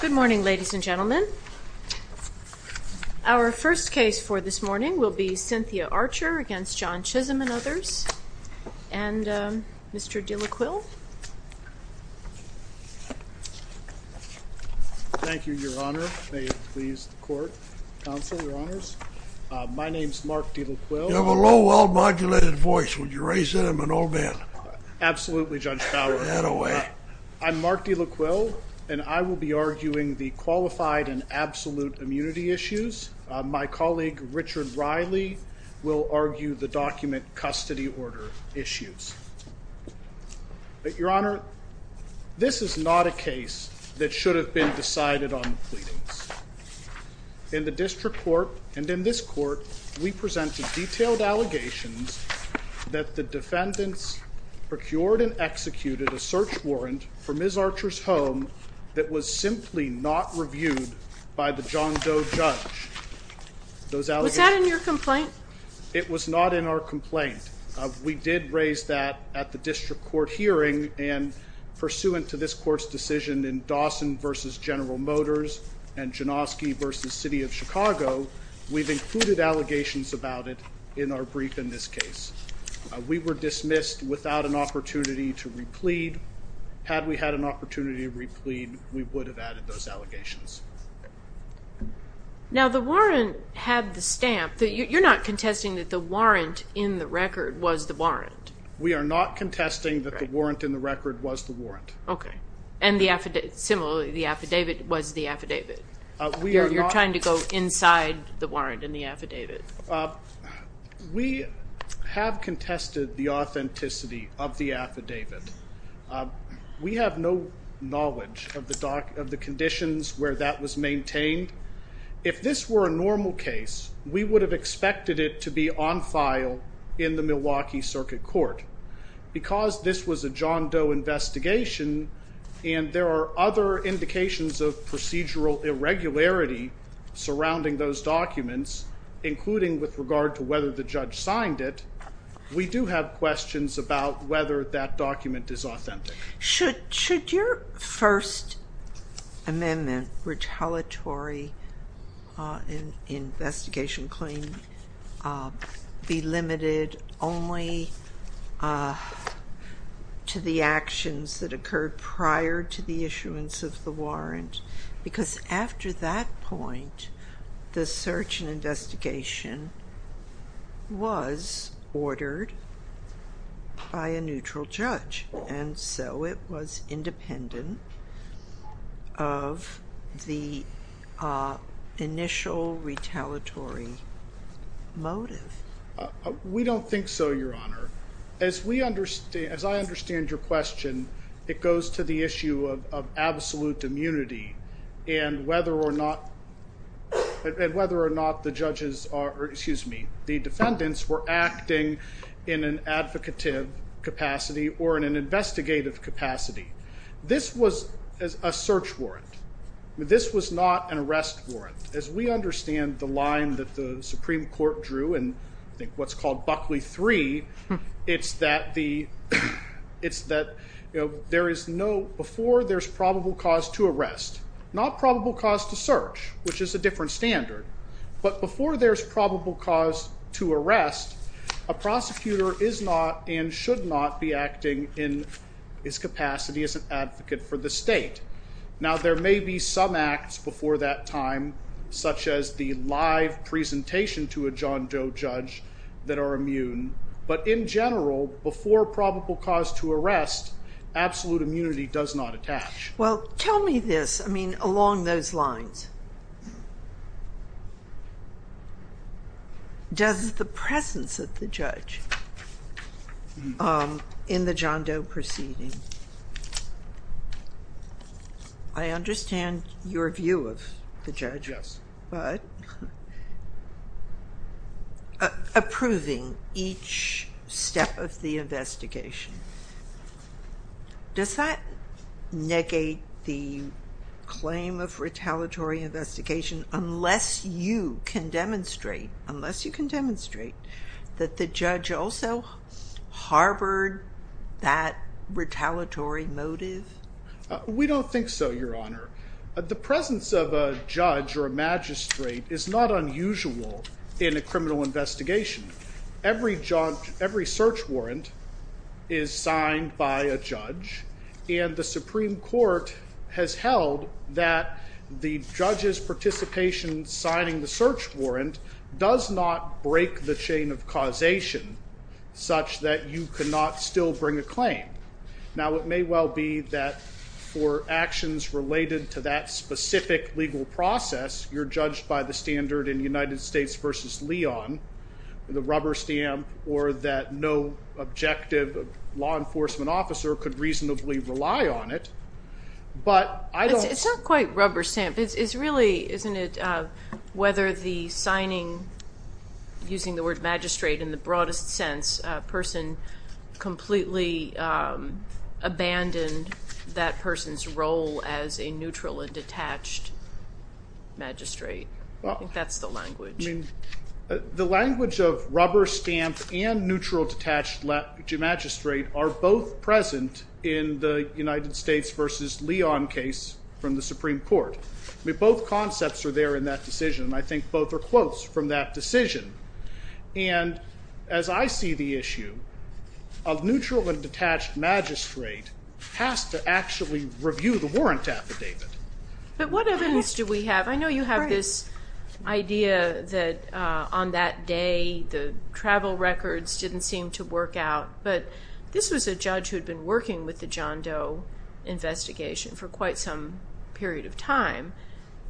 Good morning ladies and gentlemen. Our first case for this morning will be Cynthia Archer v. John Chisholm and others. And Mr. Dillacuil. Thank you, Your Honor. May it please the court, counsel, Your Honors. My name is Mark Dillacuil. You have a low, well-modulated voice. Would you Absolutely, Judge Fowler. I'm Mark Dillacuil and I will be arguing the qualified and absolute immunity issues. My colleague Richard Riley will argue the document custody order issues. But, Your Honor, this is not a case that should have been decided on the pleadings. In the defendants procured and executed a search warrant for Ms. Archer's home that was simply not reviewed by the John Doe judge. Was that in your complaint? It was not in our complaint. We did raise that at the district court hearing and pursuant to this court's decision in Dawson v. General Motors and Janoski v. City of Chicago, we've included allegations about it in our brief in this case. We were dismissed without an opportunity to replead. Had we had an opportunity to replead, we would have added those allegations. Now, the warrant had the stamp. You're not contesting that the warrant in the record was the warrant. We are not contesting that the warrant in the record was the warrant. Okay. And similarly, the affidavit was the affidavit. You're trying to go inside the warrant in the affidavit. We have contested the authenticity of the affidavit. We have no knowledge of the conditions where that was maintained. If this were a normal case, we would have expected it to be on file in the Milwaukee Circuit Court. Because this was a John Doe investigation and there are other indications of procedural irregularity surrounding those documents, including with regard to whether the judge signed it, we do have questions about whether that document is authentic. Should your First Amendment retaliatory investigation claim be limited only to the actions that occurred prior to the issuance of the warrant? Because after that point, the search and investigation was ordered by a neutral judge, and so it was independent of the initial retaliatory motive. We don't think so, Your Honor. As I understand your question, it goes to the issue of absolute immunity and whether or not the defendants were acting in an I think what's called Buckley III, it's that before there's probable cause to arrest, not probable cause to search, which is a different standard. But before there's probable cause to arrest, a prosecutor is not and should not be acting in his capacity as an advocate for the state. Now, there may be some acts before that time, such as the live presentation to a John Doe judge that are immune. But in general, before probable cause to arrest, absolute immunity does not attach. Well, tell me this. I mean, along those lines, does the presence of the judge in the John Doe proceeding I understand your view of the judge, but approving each step of the investigation, does that negate the claim of retaliatory investigation unless you can demonstrate, unless you can demonstrate that the judge also harbored that retaliatory motive? We don't think so, Your Honor. The presence of a judge or a magistrate is not unusual in a criminal investigation. Every search warrant is signed by a judge, and the Supreme Court has held that the judge's participation in signing the search warrant does not break the chain of causation such that you cannot still bring a claim. Now, it may well be that for actions related to that specific legal process, you're judged by the standard in United States v. Leon, the rubber stamp, or that no objective law enforcement officer could reasonably rely on it. It's not quite rubber stamp. It's really, isn't it, whether the signing, using the word magistrate in the broadest sense, a person completely abandoned that person's role as a neutral and detached magistrate. I think that's the language. The language of rubber stamp and neutral detached magistrate are both present in the United States v. Leon case from the Supreme Court. Both concepts are there in that decision, and I think both are close from that decision. And as I see the issue, a neutral and detached magistrate has to actually review the warrant affidavit. But what evidence do we have? I know you have this idea that on that day the travel records didn't seem to work out, but this was a judge who had been working with the John Doe investigation for quite some period of time,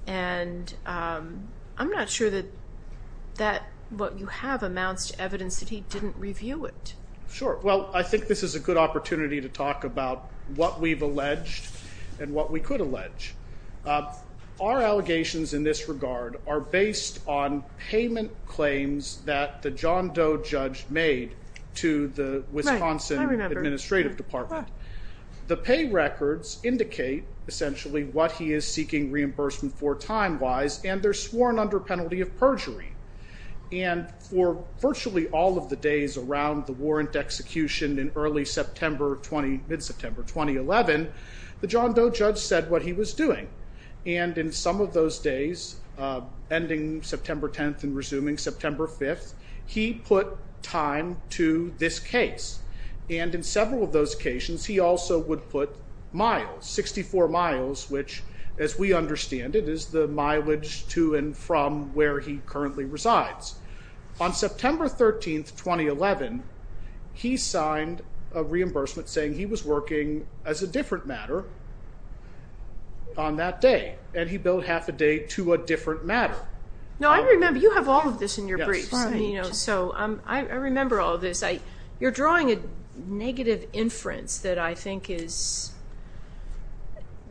and I'm not sure that what you have amounts to evidence that he didn't review it. Sure. Well, I think this is a good opportunity to talk about what we've alleged and what we could allege. Our allegations in this regard are based on payment claims that the John Doe judge made to the Wisconsin Administrative Department. The pay records indicate essentially what he is seeking reimbursement for time-wise, and they're sworn under penalty of perjury. And for virtually all of the days around the warrant execution in early September, mid-September 2011, the John Doe judge said what he was doing. And in some of those days, ending September 10th and resuming September 5th, he put time to this case. And in several of those occasions, he also would put miles, 64 miles, which, as we understand it, is the mileage to and from where he currently resides. On September 13th, 2011, he signed a reimbursement saying he was working as a different matter on that day, and he billed half a day to a different matter. Now, I remember, you have all of this in your briefs. I remember all of this. You're drawing a negative inference that I think is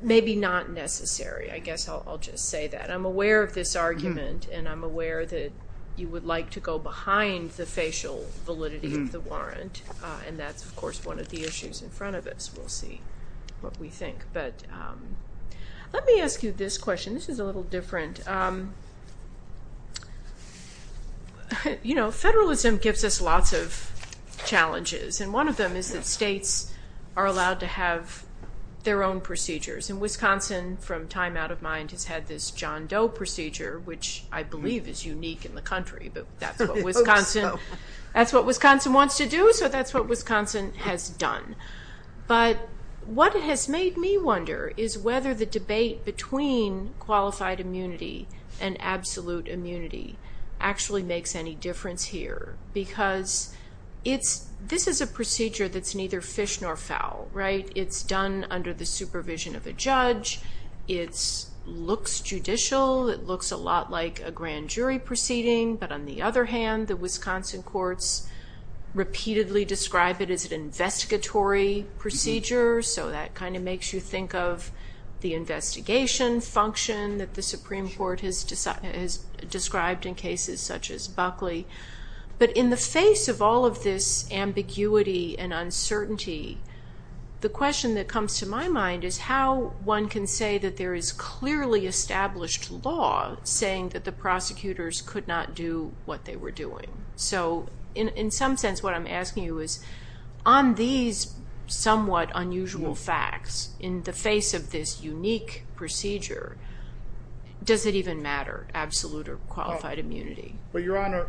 maybe not necessary. I guess I'll just say that. I'm aware of this argument, and I'm aware that you would like to go behind the facial validity of the warrant. And that's, of course, one of the issues in front of us. We'll see what we think. But let me ask you this question. This is a little different. You know, federalism gives us lots of challenges. And one of them is that states are allowed to have their own procedures. And Wisconsin, from time out of mind, has had this John Doe procedure, which I believe is unique in the country. But that's what Wisconsin wants to do, so that's what Wisconsin has done. But what has made me wonder is whether the debate between qualified immunity and absolute immunity actually makes any difference here. Because this is a procedure that's neither fish nor fowl, right? It's done under the supervision of a judge. It looks judicial. It looks a lot like a grand jury proceeding. But on the other hand, the Wisconsin courts repeatedly describe it as an investigatory procedure. So that kind of makes you think of the investigation function that the Supreme Court has described in cases such as Buckley. But in the face of all of this ambiguity and uncertainty, the question that comes to my mind is how one can say that there is clearly established law saying that the prosecutors could not do what they were doing. So in some sense, what I'm asking you is, on these somewhat unusual facts, in the face of this unique procedure, does it even matter, absolute or qualified immunity? Well, Your Honor,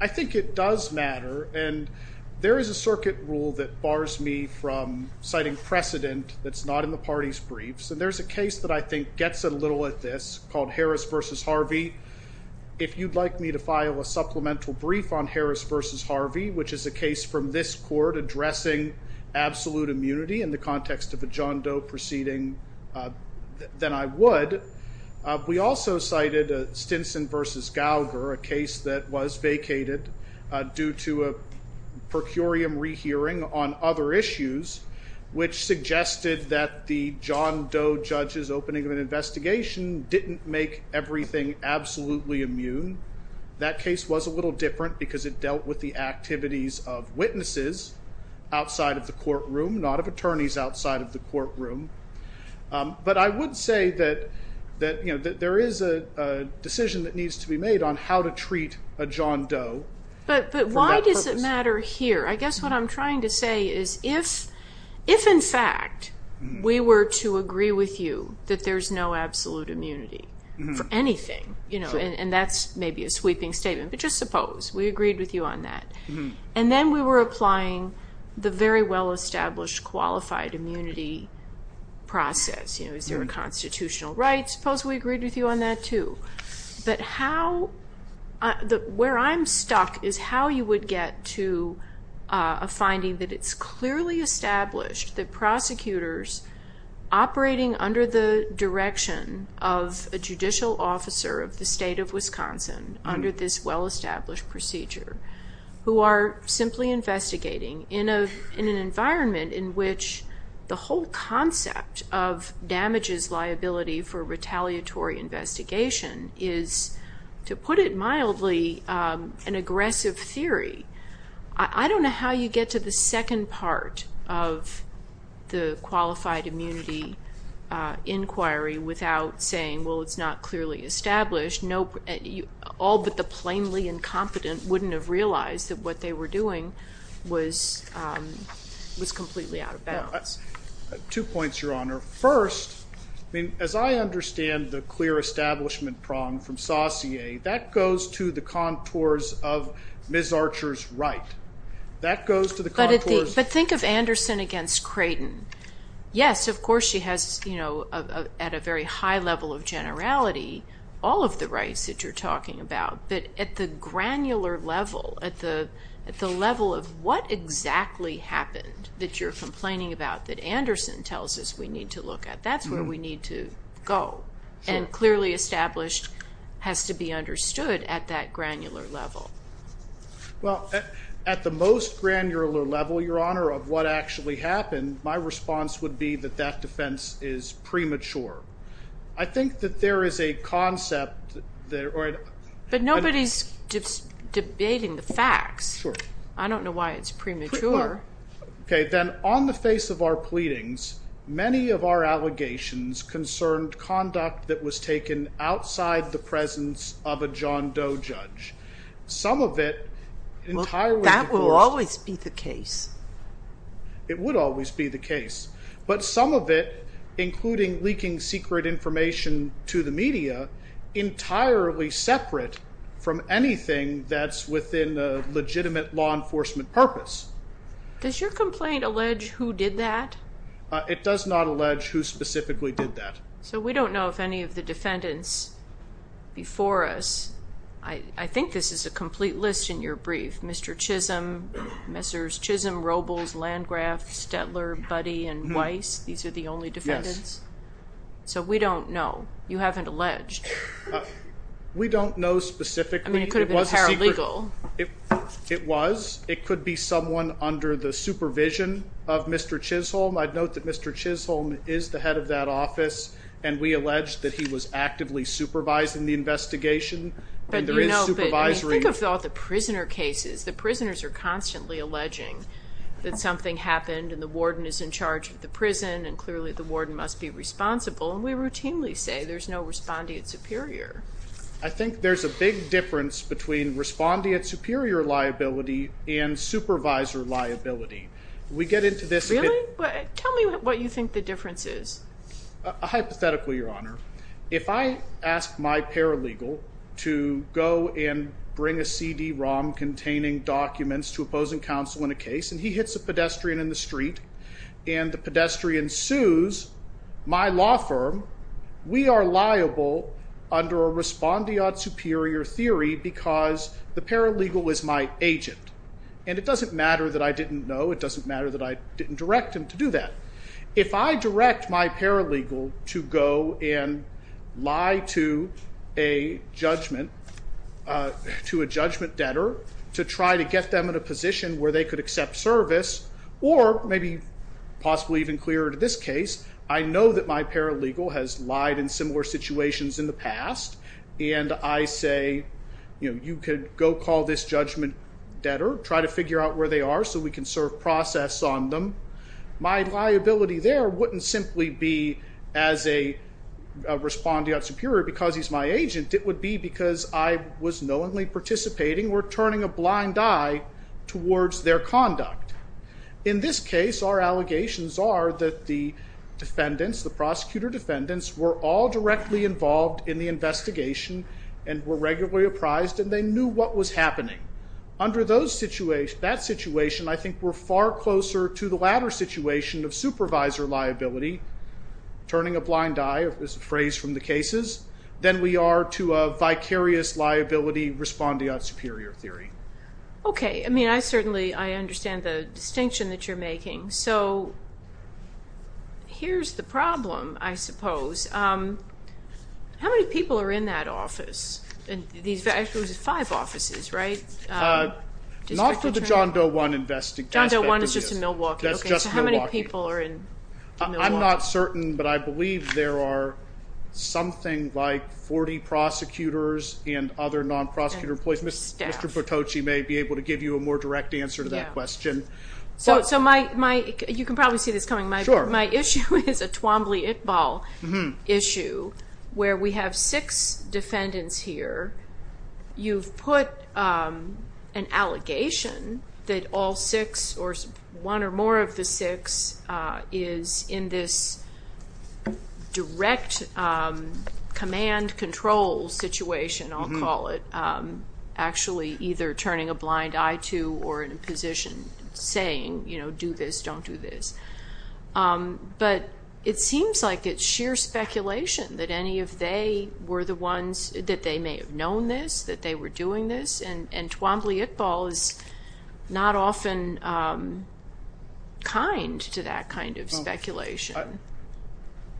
I think it does matter. And there is a circuit rule that bars me from citing precedent that's not in the party's briefs. And there's a case that I think gets a little at this called Harris v. Harvey. If you'd like me to file a supplemental brief on Harris v. Harvey, which is a case from this court addressing absolute immunity in the context of a John Doe proceeding, then I would. We also cited Stinson v. Gallagher, a case that was vacated due to a per curiam rehearing on other issues, which suggested that the John Doe judge's opening of an investigation didn't make everything absolutely immune. That case was a little different because it dealt with the activities of witnesses outside of the courtroom, not of attorneys outside of the courtroom. But I would say that there is a decision that needs to be made on how to treat a John Doe. But why does it matter here? I guess what I'm trying to say is if in fact we were to agree with you that there's no absolute immunity for anything, and that's maybe a sweeping statement, but just suppose we agreed with you on that. And then we were applying the very well-established qualified immunity process. Is there a constitutional right? Suppose we agreed with you on that too. But where I'm stuck is how you would get to a finding that it's clearly established that prosecutors operating under the direction of a judicial officer of the state of Wisconsin under this well-established procedure, who are simply investigating in an environment in which the whole concept of damages liability for retaliatory investigation is, to put it mildly, an aggressive theory. I don't know how you get to the second part of the qualified immunity inquiry without saying, well, it's not clearly established. All but the plainly incompetent wouldn't have realized that what they were doing was completely out of bounds. Two points, Your Honor. First, as I understand the clear establishment prong from Saussure, that goes to the contours of Ms. Archer's right. But think of Anderson against Creighton. Yes, of course she has at a very high level of generality all of the rights that you're talking about. But at the granular level, at the level of what exactly happened that you're complaining about that Anderson tells us we need to look at, that's where we need to go. And clearly established has to be understood at that granular level. Well, at the most granular level, Your Honor, of what actually happened, my response would be that that defense is premature. I think that there is a concept that... But nobody's debating the facts. I don't know why it's premature. Okay, then on the face of our pleadings, many of our allegations concerned conduct that was taken outside the presence of a John Doe judge. Some of it entirely... Well, that will always be the case. It would always be the case. But some of it, including leaking secret information to the media, entirely separate from anything that's within a legitimate law enforcement purpose. Does your complaint allege who did that? It does not allege who specifically did that. So we don't know if any of the defendants before us... I think this is a complete list in your brief. Mr. Chisholm, Messrs. Chisholm, Robles, Landgraf, Stetler, Buddy, and Weiss. These are the only defendants? Yes. So we don't know. You haven't alleged. We don't know specifically. I mean, it could have been paralegal. It was. It could be someone under the supervision of Mr. Chisholm. I'd note that Mr. Chisholm is the head of that office, and we allege that he was actively supervising the investigation, and there is supervisory... Think of all the prisoner cases. The prisoners are constantly alleging that something happened and the warden is in charge of the prison, and clearly the warden must be responsible, and we routinely say there's no respondeat superior. I think there's a big difference between respondeat superior liability and supervisor liability. Really? Tell me what you think the difference is. Hypothetically, Your Honor, if I ask my paralegal to go and bring a CD-ROM containing documents to opposing counsel in a case, and he hits a pedestrian in the street, and the pedestrian sues my law firm, we are liable under a respondeat superior theory because the paralegal is my agent. And it doesn't matter that I didn't know. It doesn't matter that I didn't direct him to do that. If I direct my paralegal to go and lie to a judgment debtor to try to get them in a position where they could accept service, or maybe possibly even clearer to this case, I know that my paralegal has lied in similar situations in the past, and I say, you know, you could go call this judgment debtor, try to figure out where they are so we can serve process on them. My liability there wouldn't simply be as a respondeat superior because he's my agent. It would be because I was knowingly participating or turning a blind eye towards their conduct. In this case, our allegations are that the defendants, the prosecutor defendants, were all directly involved in the investigation and were regularly apprised and they knew what was happening. Under that situation, I think we're far closer to the latter situation of supervisor liability, turning a blind eye is the phrase from the cases, than we are to a vicarious liability respondeat superior theory. OK. I mean, I certainly understand the distinction that you're making. So, here's the problem, I suppose. How many people are in that office? Actually, it was five offices, right? Not for the John Doe One investigation. John Doe One is just in Milwaukee. OK, so how many people are in Milwaukee? I'm not certain, but I believe there are something like 40 prosecutors and other non-prosecutor police. Mr. Patoche may be able to give you a more direct answer to that question. So, you can probably see this coming. My issue is a Twombly-Itball issue, where we have six defendants here. You've put an allegation that all six, or one or more of the six, is in this direct command control situation, I'll call it, actually either turning a blind eye to or in a position saying, you know, do this, don't do this. But it seems like it's sheer speculation that any of they were the ones, that they may have known this, that they were doing this, and Twombly-Itball is not often kind to that kind of speculation.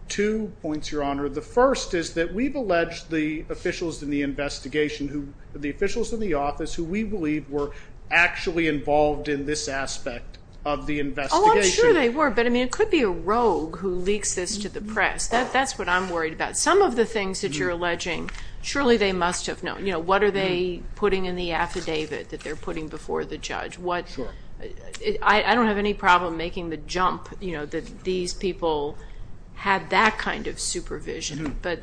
Two points, Your Honor. The first is that we've alleged the officials in the investigation, the officials in the office, who we believe were actually involved in this aspect of the investigation. Oh, I'm sure they were. But, I mean, it could be a rogue who leaks this to the press. That's what I'm worried about. Some of the things that you're alleging, surely they must have known. You know, what are they putting in the affidavit that they're putting before the judge? I don't have any problem making the jump that these people had that kind of supervision. But,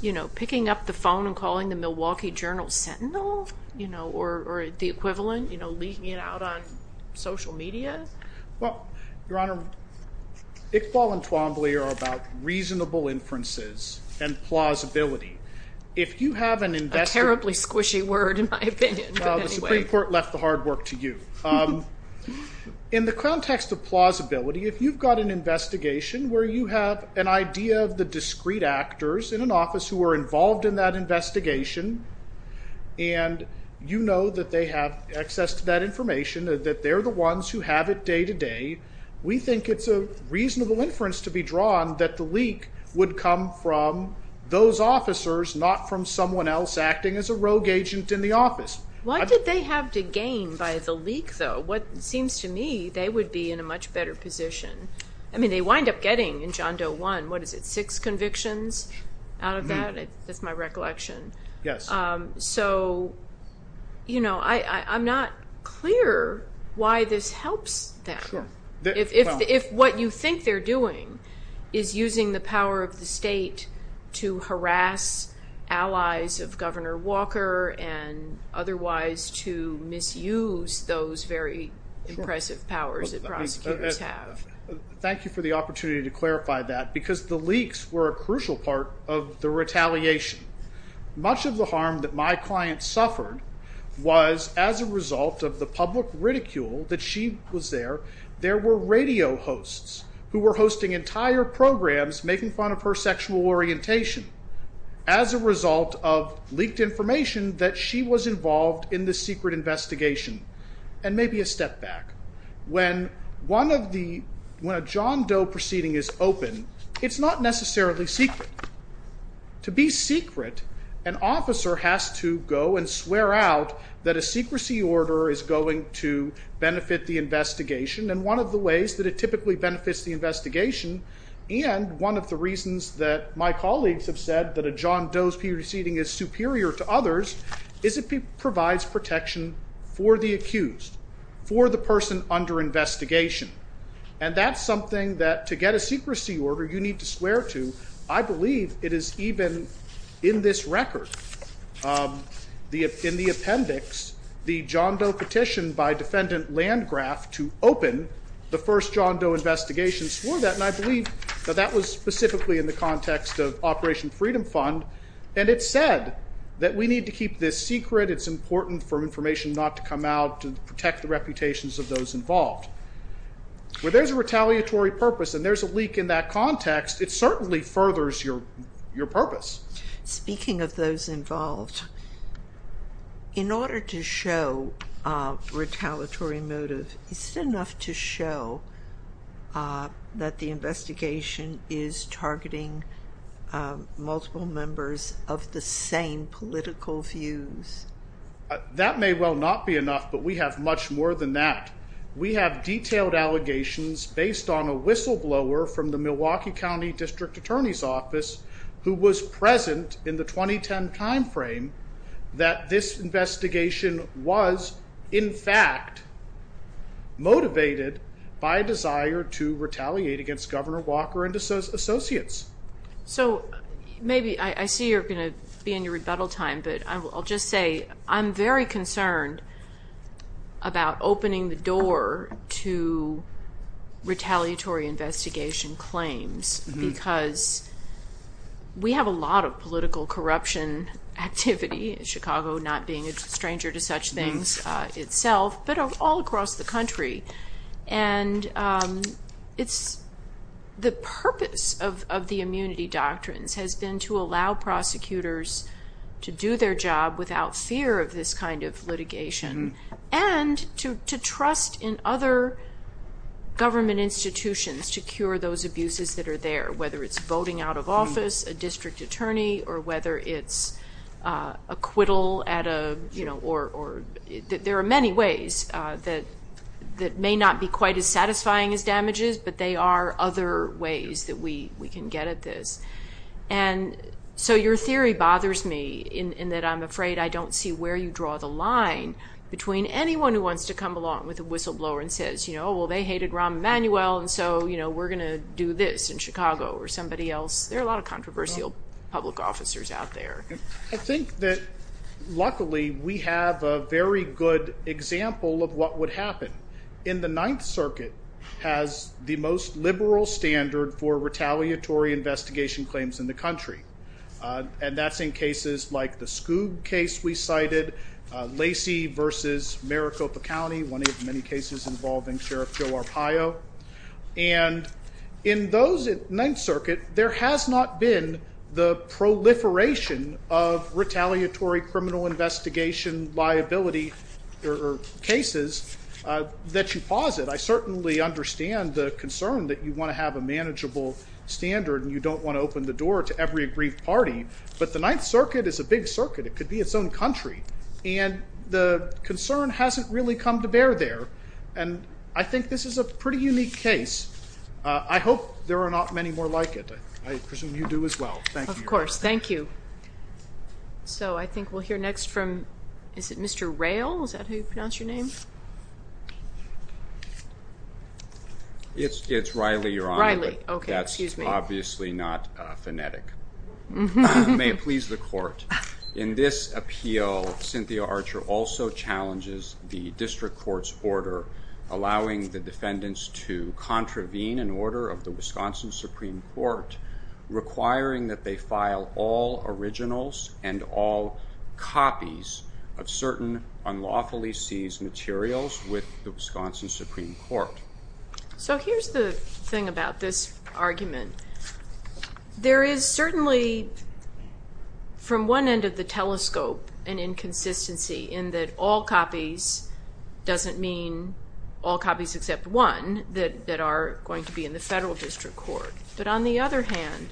you know, picking up the phone and calling the Milwaukee Journal sentinel, you know, or the equivalent, you know, leaking it out on social media? Well, Your Honor, Itball and Twombly are about reasonable inferences and plausibility. If you have an investigation... A terribly squishy word, in my opinion. Well, the Supreme Court left the hard work to you. In the context of plausibility, if you've got an investigation where you have an idea of the discreet actors in an office who are involved in that investigation and you know that they have access to that information, that they're the ones who have it day to day, we think it's a reasonable inference to be drawn that the leak would come from those officers not from someone else acting as a rogue agent in the office. What did they have to gain by the leak, though? It seems to me they would be in a much better position. I mean, they wind up getting, in John Doe 1, what is it, six convictions out of that? That's my recollection. Yes. So, you know, I'm not clear why this helps them. If what you think they're doing is using the power of the state to harass allies of Governor Walker and otherwise to misuse those very impressive powers that prosecutors have. Thank you for the opportunity to clarify that because the leaks were a crucial part of the retaliation. Much of the harm that my client suffered was as a result of the public ridicule that she was there. There were radio hosts who were hosting entire programs making fun of her sexual orientation as a result of leaked information that she was involved in the secret investigation. And maybe a step back. When a John Doe proceeding is open, it's not necessarily secret. To be secret, an officer has to go and swear out that a secrecy order is going to benefit the investigation. And one of the ways that it typically benefits the investigation and one of the reasons that my colleagues have said that a John Doe proceeding is superior to others is it provides protection for the accused, for the person under investigation. And that's something that to get a secrecy order you need to swear to. I believe it is even in this record in the appendix the John Doe petition by defendant Landgraf to open the first John Doe investigation swore that and I believe that that was specifically in the context of Operation Freedom Fund and it said that we need to keep this secret it's important for information not to come out to protect the reputations of those involved. Where there's a retaliatory purpose and there's a leak in that context it certainly furthers your purpose. Speaking of those involved, in order to show retaliatory motive, is it enough to show that the investigation is targeting multiple members of the same political views? That may well not be enough but we have much more than that. We have detailed allegations based on a whistleblower from the Milwaukee County District Attorney's Office who was present in the 2010 time frame that this investigation was in fact motivated by a desire to retaliate against Governor Walker and his associates. So, maybe, I see you're going to be in your rebuttal time, but I'll just say I'm very concerned about opening the door to retaliatory investigation claims because we have a lot of political corruption activity in Chicago, not being a stranger to such things itself, but all across the country. And, the purpose of the immunity doctrines has been to allow prosecutors to do their job without fear of this kind of litigation and to trust in other government institutions to cure those abuses that are there, whether it's voting out of office, a district attorney, or whether it's acquittal at a, you know, or, there are many ways that may not be quite as satisfying as damages but they are other ways that we can get at this. And, so, your theory bothers me in that I'm afraid I don't see where you draw the line between anyone who wants to come along with a whistleblower and says, you know, well, they hated Rahm Emanuel and so, you know, we're going to do this in Chicago or somebody else. There are a lot of controversial public officers out there. I think that luckily we have a very good example of what would happen. In the Ninth Circuit has the most liberal standard for retaliatory investigation claims in the country. And that's in cases like the Skoog case we cited, Lacey versus Maricopa County, one of the many cases involving Sheriff Joe Arpaio. And in those, Ninth Circuit, there has not been the proliferation of retaliatory criminal investigation liability cases that you posit. I certainly understand the concern that you want to have a manageable standard and you don't want to open the door to every aggrieved party. But the Ninth Circuit is a big circuit. It could be its own country. And the concern hasn't really come to bear there. And I think this is a pretty unique case. I hope there are not many more like it. I presume you do as well. Thank you. Of course. Thank you. So I think we'll hear next from is it Mr. Rail? Is that how you pronounce your name? It's Riley, Your Honor. Riley. That's obviously not phonetic. May it please the Court. In this appeal, Cynthia Archer also challenges the District Court's order allowing the defendants to contravene an order of the Wisconsin Supreme Court requiring that they file all originals and all copies of certain unlawfully seized materials with the Wisconsin Supreme Court. So here's the thing about this argument. There is certainly from one end of the telescope an inconsistency in that all copies doesn't mean all copies except one that are going to be in the Federal District Court. But on the other hand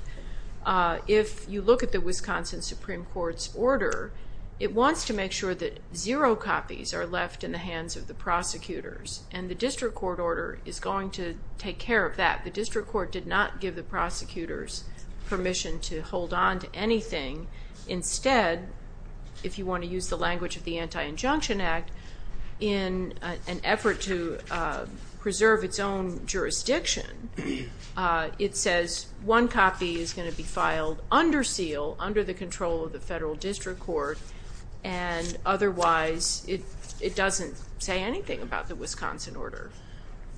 if you look at the Wisconsin Supreme Court's order, it wants to make sure that zero copies are left in the prosecutors. And the District Court order is going to take care of that. The District Court did not give the prosecutors permission to hold on to anything. Instead if you want to use the language of the Anti-Injunction Act in an effort to preserve its own jurisdiction, it says one copy is going to be filed under seal, under the control of the Federal District Court and otherwise it doesn't say anything about the Wisconsin order.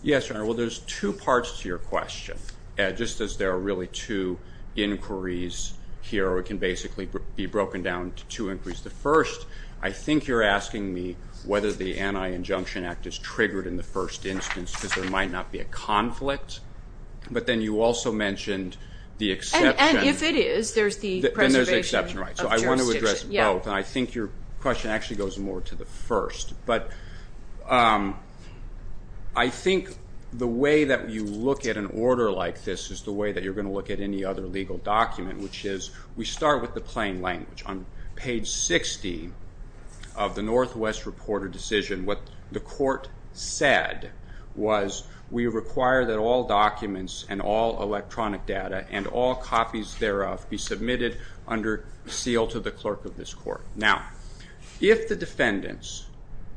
Yes, Your Honor. Well there's two parts to your question. Just as there are really two inquiries here or it can basically be broken down to two inquiries. The first, I think you're asking me whether the Anti-Injunction Act is triggered in the first instance because there might not be a conflict. But then you also mentioned the exception. And if it is, there's the preservation of jurisdiction. So I want to address both. And I think your question actually goes more to the first. But I think the way that you look at an order like this is the way that you're going to look at any other legal document, which is we start with the plain language. On page 60 of the Northwest Reporter Decision, what the Court said was we require that all documents and all electronic data and all copies thereof be submitted under appeal to the clerk of this Court. Now, if the defendants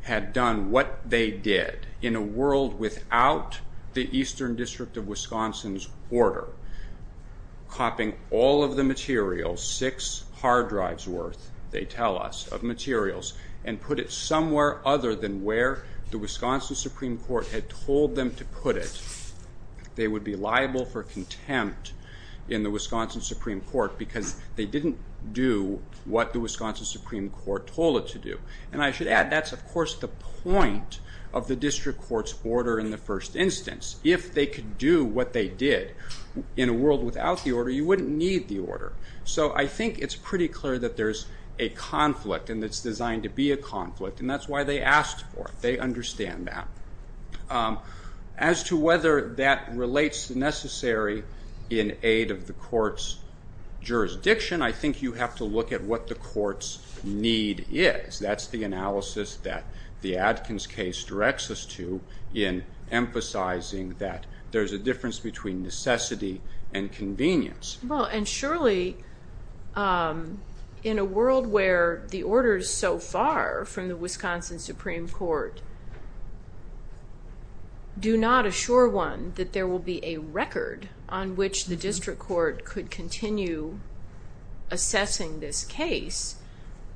had done what they did in a world without the Eastern District of Wisconsin's order, copying all of the materials, six hard drives worth, they tell us, of materials, and put it somewhere other than where the Wisconsin Supreme Court had told them to put it, they would be liable for contempt in the Wisconsin Supreme Court because they didn't do what the Wisconsin Supreme Court told it to do. And I should add, that's of course the point of the District Court's order in the first instance. If they could do what they did in a world without the order, you wouldn't need the order. So I think it's pretty clear that there's a conflict and it's designed to be a conflict and that's why they asked for it. They understand that. As to whether that relates to necessary in jurisdiction, I think you have to look at what the court's need is. That's the analysis that the Adkins case directs us to in emphasizing that there's a difference between necessity and convenience. Well, and surely in a world where the orders so far from the Wisconsin Supreme Court do not assure one that there will be a record on which the assessing this case,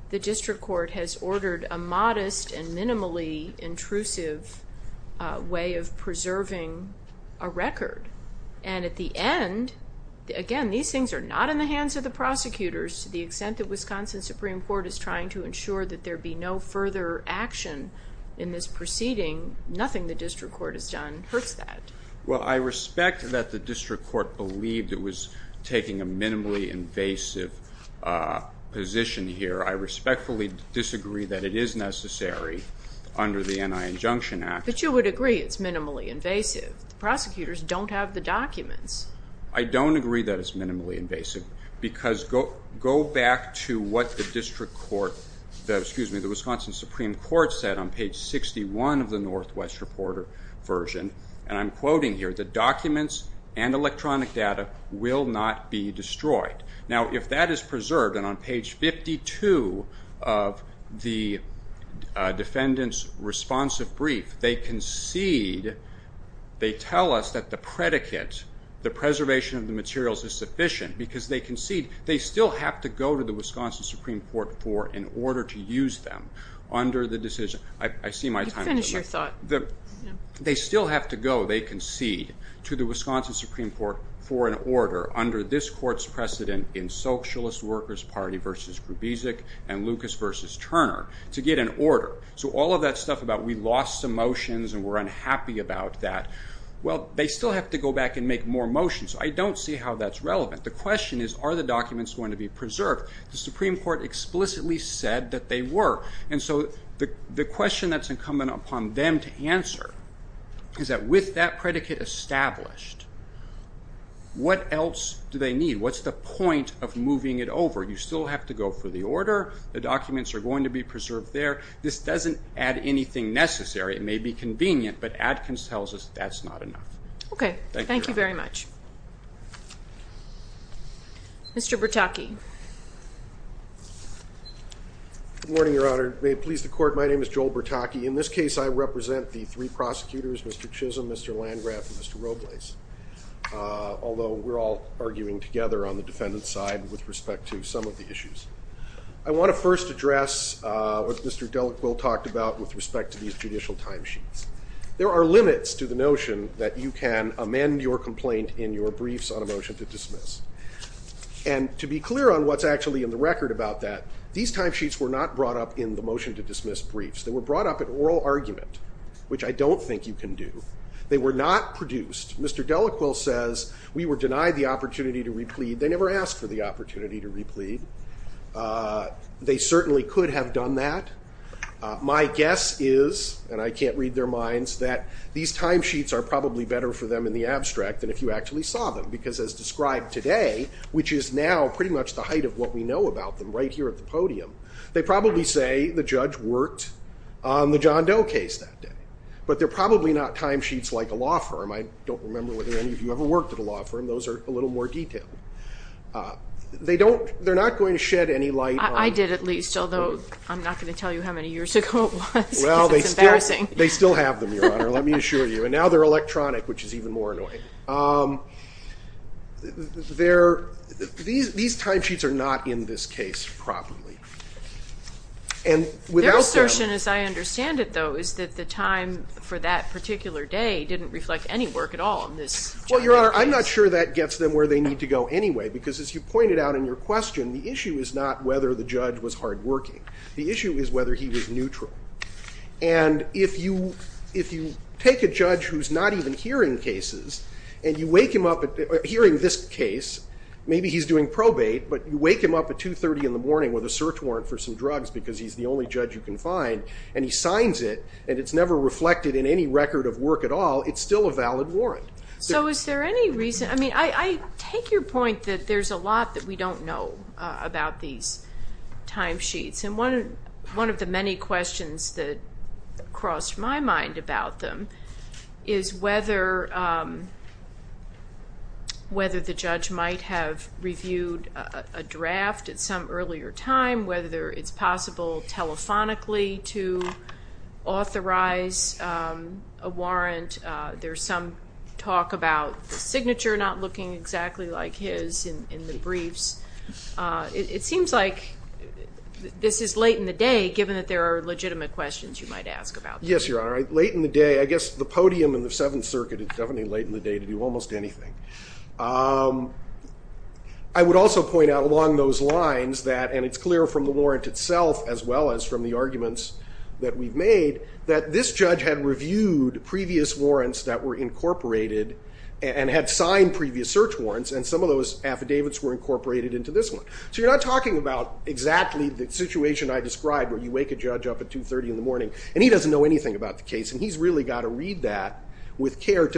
the District Court has ordered a modest and minimally intrusive way of preserving a record. And at the end, again, these things are not in the hands of the prosecutors to the extent that Wisconsin Supreme Court is trying to ensure that there be no further action in this proceeding, nothing the District Court has done hurts that. Well, I respect that the District Court believed it was taking a minimally invasive position here. I respectfully disagree that it is necessary under the N.I. Injunction Act. But you would agree it's minimally invasive. The prosecutors don't have the documents. I don't agree that it's minimally invasive because go back to what the District Court excuse me, the Wisconsin Supreme Court said on page 61 of the Northwest Reporter version and I'm quoting here, the documents and electronic data will not be destroyed. Now, if that is preserved, and on page 52 of the defendant's responsive brief, they concede they tell us that the predicate, the preservation of the materials is sufficient because they concede they still have to go to the Wisconsin Supreme Court for in order to use them under the decision. I see my time is up. They still have to go, they concede, to the Wisconsin Supreme Court for an order under this court's precedent in Socialist Workers Party v. Grubesik and Lucas v. Turner to get an order. So all of that stuff about we lost some motions and we're unhappy about that, well, they still have to go back and make more motions. I don't see how that's relevant. The question is are the documents going to be preserved? The Supreme Court explicitly said that they were. And so the question that's incumbent upon them to answer is that with that predicate established, what else do they need? What's the point of moving it over? You still have to go for the order, the documents are going to be preserved there. This doesn't add anything necessary. It may be convenient, but Adkins tells us that's not enough. Okay. Thank you very much. Good morning, Your Honor. May it please the Court, my name is John Adkins. I represent the three prosecutors, Mr. Chisholm, Mr. Landgraf, and Mr. Robles, although we're all arguing together on the defendant's side with respect to some of the issues. I want to first address what Mr. Delacroix talked about with respect to these judicial timesheets. There are limits to the notion that you can amend your complaint in your briefs on a motion to dismiss. And to be clear on what's actually in the record about that, these timesheets were not brought up in the motion to dismiss briefs. They were brought up in oral argument, which I don't think you can do. They were not produced. Mr. Delacroix says we were denied the opportunity to replead. They never asked for the opportunity to replead. They certainly could have done that. My guess is, and I can't read their minds, that these timesheets are probably better for them in the abstract than if you actually saw them, because as described today, which is now pretty much the height of what we know about them right here at the podium, they probably say the judge worked on the John Doe case that day. But they're probably not timesheets like a law firm. I don't remember whether any of you ever worked at a law firm. Those are a little more detailed. They're not going to shed any light on... I did at least, although I'm not going to tell you how many years ago it was. Well, they still have them, Your Honor. Let me assure you. And now they're electronic, which is even more annoying. These timesheets are not in this case properly. And without them... Their assertion, as I understand it, though, is that the time for that particular day didn't reflect any work at all in this John Doe case. Well, Your Honor, I'm not sure that gets them where they need to go anyway, because as you pointed out in your question, the issue is not whether the judge was hardworking. The issue is whether he was neutral. And if you take a judge who's not even hearing cases, and you wake him up hearing this case, maybe he's doing probate, but you wake him up at 2.30 in the morning with a search warrant for some drugs, because he's the only judge you can find, and he signs it, and it's never reflected in any record of work at all, it's still a valid warrant. So is there any reason... I mean, I take your point that there's a lot that we don't know about these timesheets. And one of the many questions that crossed my mind about them is whether the judge might have reviewed a draft at some earlier time, whether it's possible telephonically to authorize a warrant. There's some talk about the signature not looking exactly like his in the briefs. It seems like this is late in the day, given that there are legitimate questions you might ask about this. Yes, Your Honor. Late in the day. I guess the late in the day to do almost anything. I would also point out along those lines that, and it's clear from the warrant itself as well as from the arguments that we've made, that this judge had reviewed previous warrants that were incorporated, and had signed previous search warrants, and some of those affidavits were incorporated into this one. So you're not talking about exactly the situation I described, where you wake a judge up at 2.30 in the morning, and he doesn't know anything about the case, and he's really got to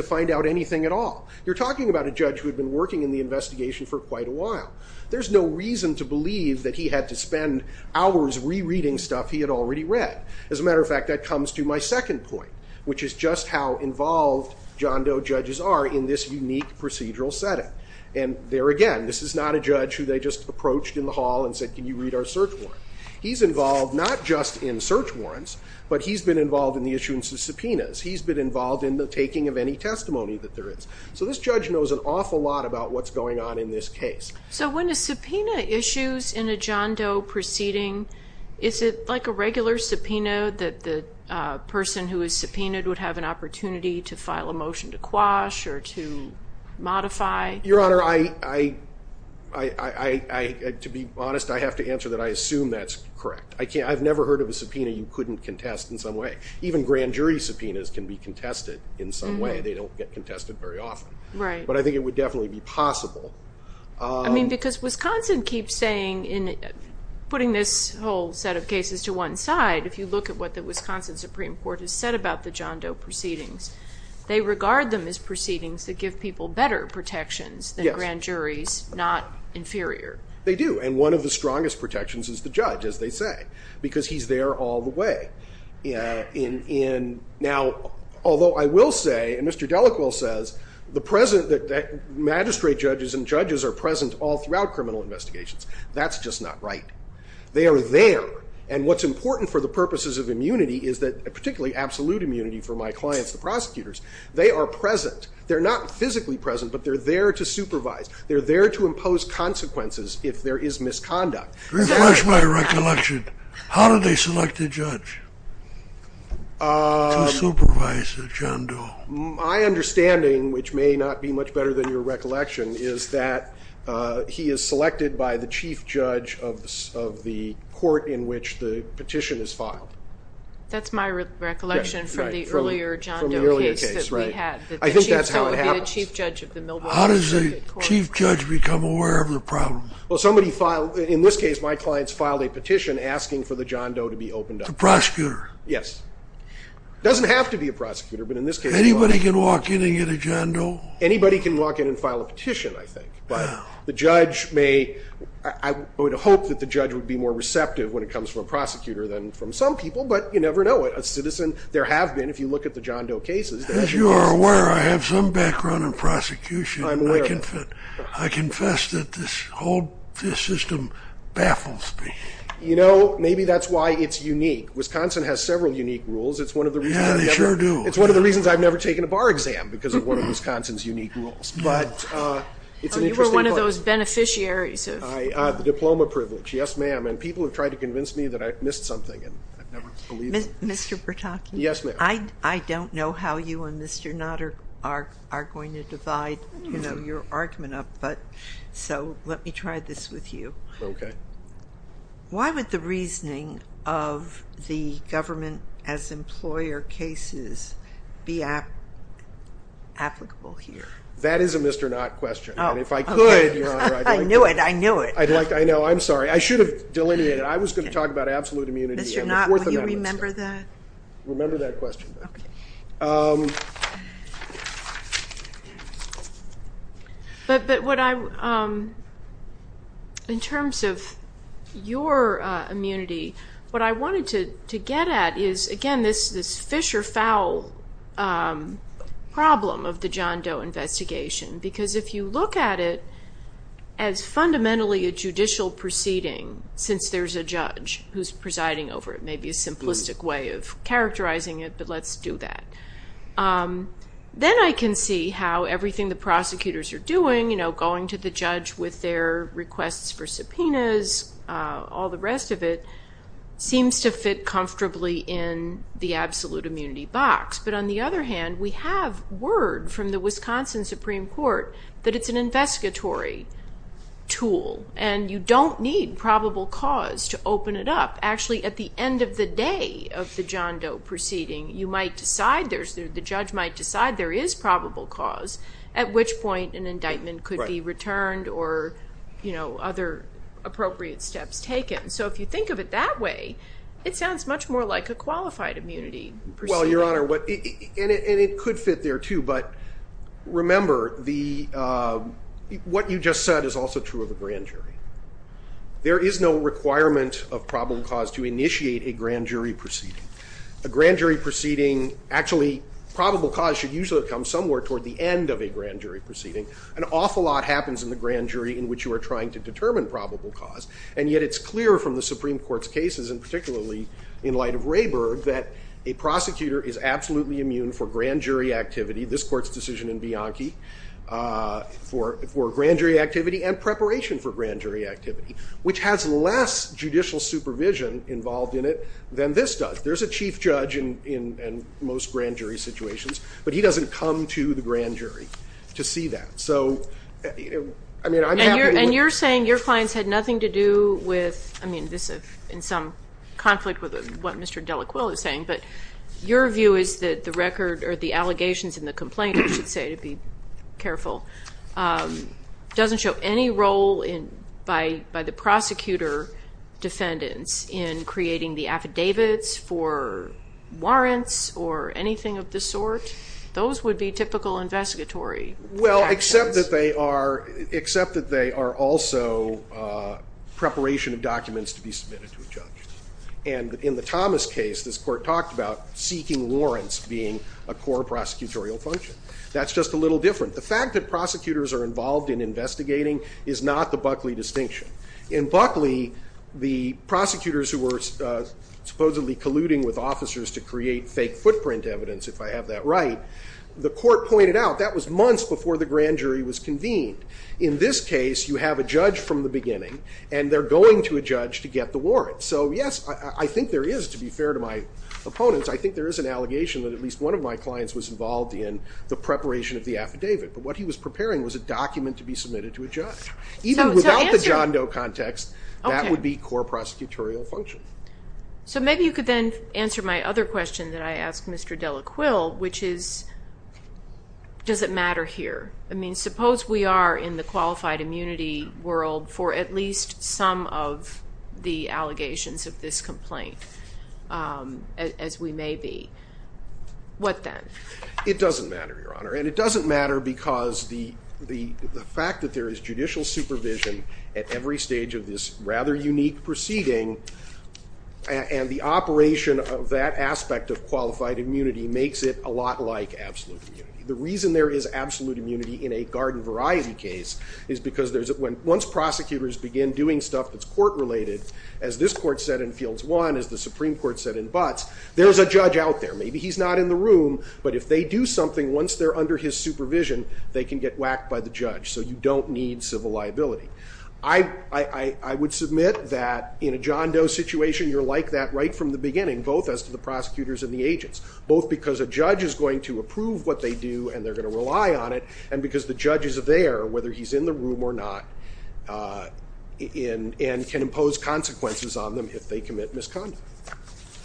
find out anything at all. You're talking about a judge who had been working in the investigation for quite a while. There's no reason to believe that he had to spend hours re-reading stuff he had already read. As a matter of fact, that comes to my second point, which is just how involved John Doe judges are in this unique procedural setting. And there again, this is not a judge who they just approached in the hall and said, can you read our search warrant? He's involved not just in search warrants, but he's been involved in the issuance of subpoenas. He's been involved in the taking of any testimony that there is. So this judge knows an awful lot about what's going on in this case. So when a subpoena issues in a John Doe proceeding, is it like a regular subpoena, that the person who is subpoenaed would have an opportunity to file a motion to quash or to modify? Your Honor, I... to be honest, I have to answer that I assume that's correct. I've never heard of a subpoena you couldn't contest in some way. Even grand jury subpoenas can be contested in some way. They don't get contested very often. But I think it would definitely be possible. I mean, because Wisconsin keeps saying in putting this whole set of cases to one side, if you look at what the Wisconsin Supreme Court has said about the John Doe proceedings, they regard them as proceedings that give people better protections than grand juries, not inferior. They do. And one of the strongest protections is the judge, as they say. Because he's there all the way. Now, although I will say, and Mr. Delacroix says, magistrate judges and judges are present all throughout criminal investigations. That's just not right. They are there. And what's important for the purposes of immunity is that, particularly absolute immunity for my clients, the prosecutors, they are present. They're not physically present, but they're there to supervise. They're there to impose consequences if there is misconduct. Refresh my recollection. How do they select a judge to supervise a John Doe? My understanding, which may not be much better than your recollection, is that he is selected by the chief judge of the court in which the petition is filed. That's my recollection from the earlier John Doe case that we had. I think that's how it happens. How does the chief judge become aware of the case? In this case, my clients filed a petition asking for the John Doe to be opened up. The prosecutor? Yes. It doesn't have to be a prosecutor, but in this case... Anybody can walk in and get a John Doe? Anybody can walk in and file a petition, I think. But the judge may... I would hope that the judge would be more receptive when it comes from a prosecutor than from some people, but you never know. A citizen, there have been, if you look at the John Doe cases... As you are aware, I have some background in prosecution. I'm aware of it. I confess that this whole system baffles me. You know, maybe that's why it's unique. Wisconsin has several unique rules. It's one of the reasons... Yeah, they sure do. It's one of the reasons I've never taken a bar exam because of one of Wisconsin's unique rules. But... You were one of those beneficiaries of... The diploma privilege. Yes, ma'am. People have tried to convince me that I've missed something and I've never believed them. Mr. Bertocchi? Yes, ma'am. I don't know how you and Mr. Nutter are going to divide your argument up, but... Let me try this with you. Okay. Why would the reasoning of the government as employer cases be applicable here? That is a Mr. Knott question. Oh, okay. I knew it. I knew it. I know. I'm sorry. I should have delineated. I was going to talk about absolute immunity. Mr. Knott, will you remember that? Remember that question. Okay. But what I... In terms of your immunity, what I wanted to get at is, again, this fish or fowl problem of the John Doe investigation. Because if you look at it as fundamentally a judicial proceeding, since there's a judge who's presiding over it, maybe a simplistic way of characterizing it, but let's do that. Then I can see how everything the prosecutors are doing, going to the judge with their requests for subpoenas, all the rest of it, seems to fit comfortably in the absolute immunity box. But on the other hand, we have word from the Wisconsin Supreme Court that it's an investigatory tool. You don't need probable cause to open it up. Actually, at the end of the day of the John Doe proceeding, you might decide, the judge might decide there is probable cause, at which point an indictment could be returned or other appropriate steps taken. So if you think of it that way, it sounds much more like a qualified immunity. Well, Your Honor, and it could fit there too, but remember the... What you just said is also true of the grand jury. There is no requirement of problem cause to initiate a grand jury proceeding. A grand jury proceeding, actually, probable cause should usually come somewhere toward the end of a grand jury proceeding. An awful lot happens in the grand jury in which you are trying to determine probable cause, and yet it's clear from the Supreme Court's cases, and particularly in light of Rayburg, that a prosecutor is absolutely immune for grand jury activity, this Court's decision in Bianchi, for grand jury activity and preparation for grand jury activity, which has less judicial supervision involved in it than this does. There's a chief judge in most grand jury situations, but he doesn't come to the grand jury to see that. And you're saying your findings had nothing to do with... I mean, this is in some conflict with what Mr. Delacroix is saying, but your view is that the record or the allegations in the complaint, I should say, to be careful, doesn't show any role by the prosecutor defendants in creating the affidavits for warrants or anything of the sort. Those would be typical investigatory actions. Well, except that they are also preparation of documents to be submitted to a judge. And in the Thomas case, this Court talked about seeking warrants being a core prosecutorial function. That's just a little different. The fact that prosecutors are involved in investigating is not the Buckley case. The prosecutors who were supposedly colluding with officers to create fake footprint evidence, if I have that right, the Court pointed out that was months before the grand jury was convened. In this case, you have a judge from the beginning, and they're going to a judge to get the warrant. So yes, I think there is, to be fair to my opponents, I think there is an allegation that at least one of my clients was involved in the preparation of the affidavit. But what he was preparing was a document to be submitted to a judge. Even without the John Doe context, that would be core prosecutorial function. So maybe you could then answer my other question that I asked Mr. Delaquil, which is does it matter here? I mean, suppose we are in the qualified immunity world for at least some of the allegations of this complaint as we may be. What then? It doesn't matter, Your Honor. And it doesn't matter because the judge is under his supervision at every stage of this rather unique proceeding and the operation of that aspect of qualified immunity makes it a lot like absolute immunity. The reason there is absolute immunity in a garden variety case is because once prosecutors begin doing stuff that's court-related, as this court said in Fields 1, as the Supreme Court said in Butts, there's a judge out there. Maybe he's not in the room, but if they do something once they're under his supervision, they can get whacked by the judge. So you don't need civil liability. I would submit that in a John Doe situation, you're like that right from the beginning, both as to the prosecutors and the agents, both because a judge is going to approve what they do and they're going to rely on it, and because the judge is there whether he's in the room or not and can impose consequences on them if they commit misconduct.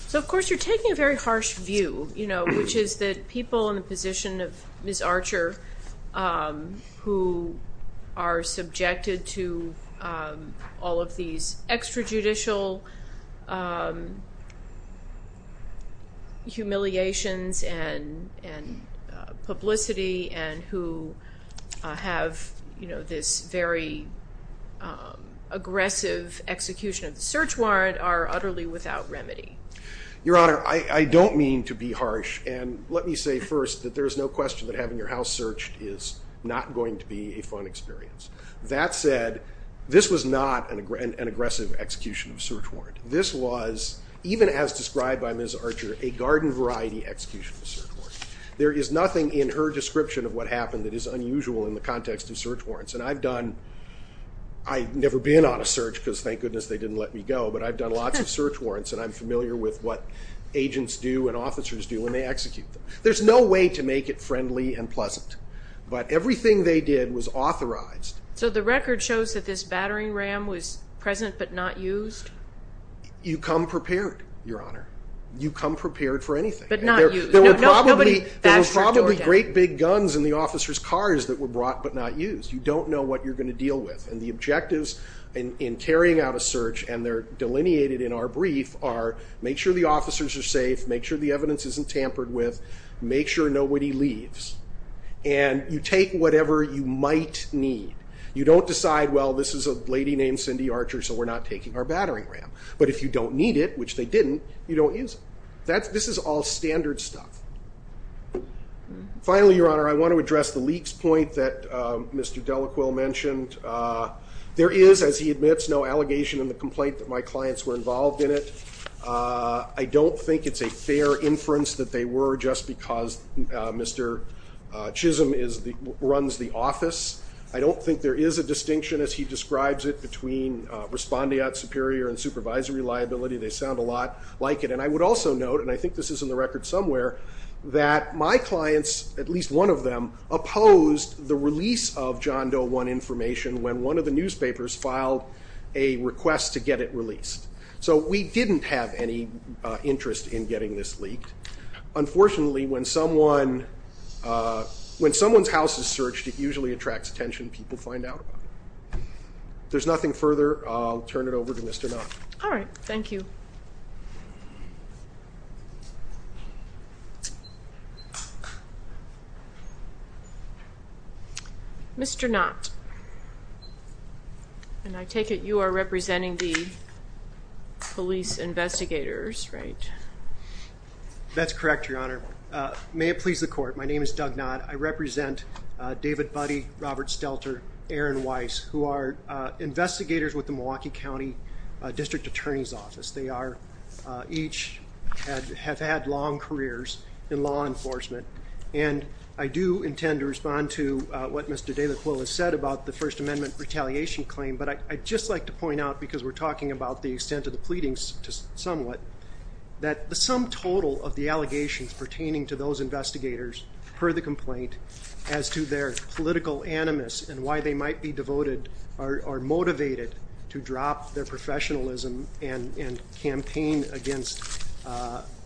So of course you're taking a very harsh view, you know, which is that people in the position of Ms. Archer who are subjected to all of these extrajudicial humiliations and publicity and who have this very aggressive execution of the search warrant are utterly without remedy. Your Honor, I don't mean to be harsh, and let me say first that there's no question that having your house searched is not going to be a fun experience. That said, this was not an aggressive execution of a search warrant. This was, even as described by Ms. Archer, a garden variety execution of a search warrant. There is nothing in her description of what happened that is unusual in the context of search warrants, and I've done I've never been on a search because thank goodness they didn't let me go, but I've done lots of search warrants and I'm familiar with what there's no way to make it friendly and pleasant, but everything they did was authorized. So the record shows that this battering ram was present but not used? You come prepared, Your Honor. You come prepared for anything. There were probably great big guns in the officers' cars that were brought but not used. You don't know what you're going to deal with, and the objectives in carrying out a search and they're delineated in our brief are make sure the officers are safe, make sure the evidence isn't tampered with, make sure nobody leaves, and you take whatever you might need. You don't decide well, this is a lady named Cindy Archer so we're not taking our battering ram. But if you don't need it, which they didn't, you don't use it. This is all standard stuff. Finally, Your Honor, I want to address the leak's point that Mr. Delacroix mentioned. There is as he admits, no allegation in the complaint that my clients were involved in it. I don't think it's a fair inference that they were just because Mr. Chisholm runs the office. I don't think there is a distinction as he describes it between respondeat superior and supervisory liability. They sound a lot like it. And I would also note, and I think this is in the record somewhere, that my clients, at least one of them, opposed the release of John Doe 1 information when one of the newspapers filed a request to not release it. They didn't have any interest in getting this leaked. Unfortunately, when someone's house is searched, it usually attracts attention. People find out about it. If there's nothing further, I'll turn it over to Mr. Knott. All right. Thank you. Mr. Knott, please. And I take it you are representing the police investigators, right? That's correct, Your Honor. May it please the court, my name is Doug Knott. I represent David Buddy, Robert Stelter, Aaron Weiss, who are investigators with the Milwaukee County District Attorney's Office. They are each have had long careers in law enforcement. And I do intend to respond to what Mr. Delacroix has said about the First Amendment retaliation claim, but I'd just like to point out, because we're talking about the extent of the pleadings somewhat, that the sum total of the allegations pertaining to those investigators, per the complaint, as to their political animus and why they might be devoted or motivated to drop their professionalism and campaign against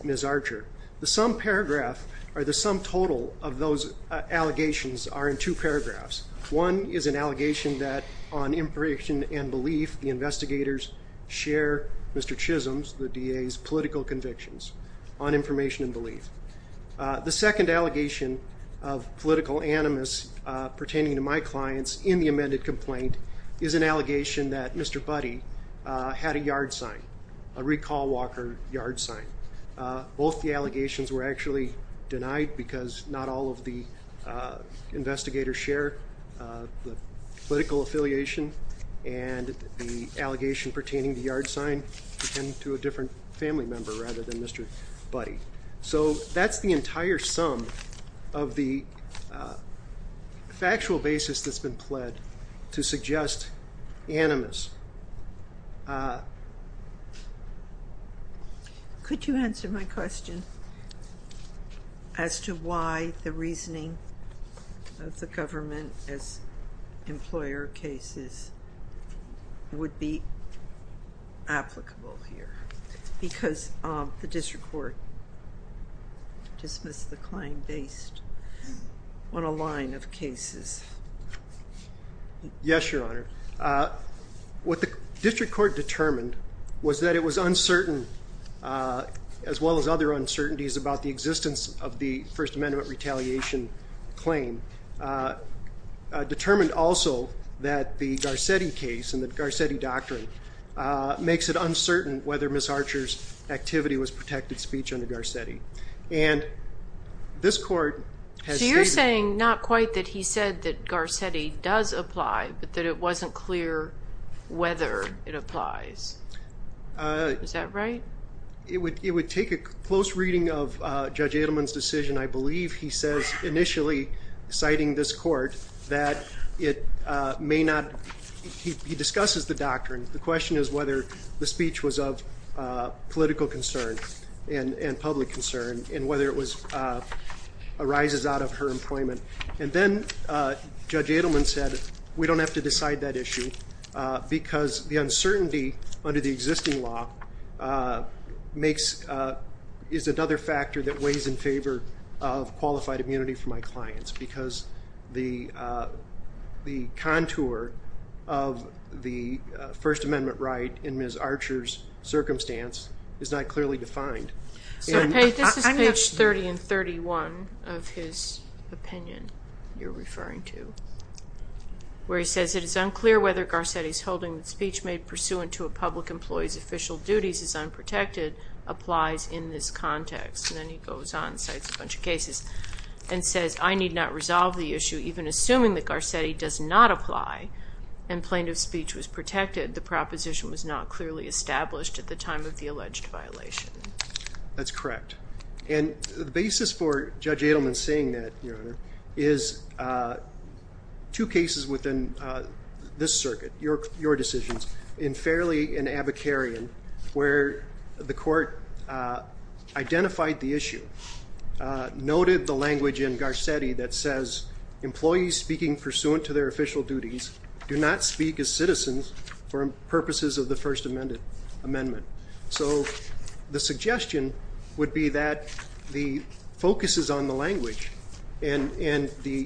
Ms. Archer. The sum paragraph, or the sum total of those allegations are in two paragraphs. One is an allegation that on information and belief, the investigators share Mr. Chisholm's, the DA's, political convictions on information and belief. The second allegation of political animus pertaining to my clients in the amended complaint is an allegation that Mr. Buddy had a yard sign, a recall walker yard sign. Both the allegations were actually denied because not all of the investigators share the political affiliation and the allegation pertaining to yard sign pertain to a different family member rather than Mr. Buddy. So that's the entire sum of the factual basis that's been pled to suggest animus. Uh... Could you answer my question as to why the reasoning of the government as employer cases would be applicable here because of the district court dismissed the claim based on a line of cases? Yes, Your Honor. What the district court determined was that it was uncertain as well as other uncertainties about the existence of the First Amendment retaliation claim determined also that the Garcetti case and the Garcetti doctrine makes it uncertain whether Ms. Archer's activity was protected speech under Garcetti. This court... So you're saying not quite that he said that Garcetti does apply but that it wasn't clear whether it applies. Is that right? It would take a close reading of Judge Edelman's decision. I believe he says initially citing this court that it may not... He discusses the doctrine. The question is whether the speech was of political concern and public concern and whether it was arises out of her employment. And then Judge Edelman said we don't have to decide that issue because the uncertainty under the existing law is another factor that weighs in favor of qualified immunity for my clients because the contour of the First Amendment right in Ms. Archer's circumstance is not clearly defined. This is page 30 and 31 of his opinion you're referring to where he says it is unclear whether Garcetti's holding that speech made pursuant to a public employee's official duties is unprotected applies in this context. And then he goes on and cites a bunch of cases and says I need not resolve the issue even assuming that Garcetti does not apply and plaintiff's speech was protected the proposition was not clearly established at the time of the alleged violation. That's correct. And the basis for Judge Edelman saying that is two cases within this circuit, your decisions in Fairley and Abakarian where the court identified the issue noted the language in Garcetti that says employees speaking pursuant to their official duties do not speak as citizens for purposes of the First Amendment. So the suggestion would be that the focus is on the language and the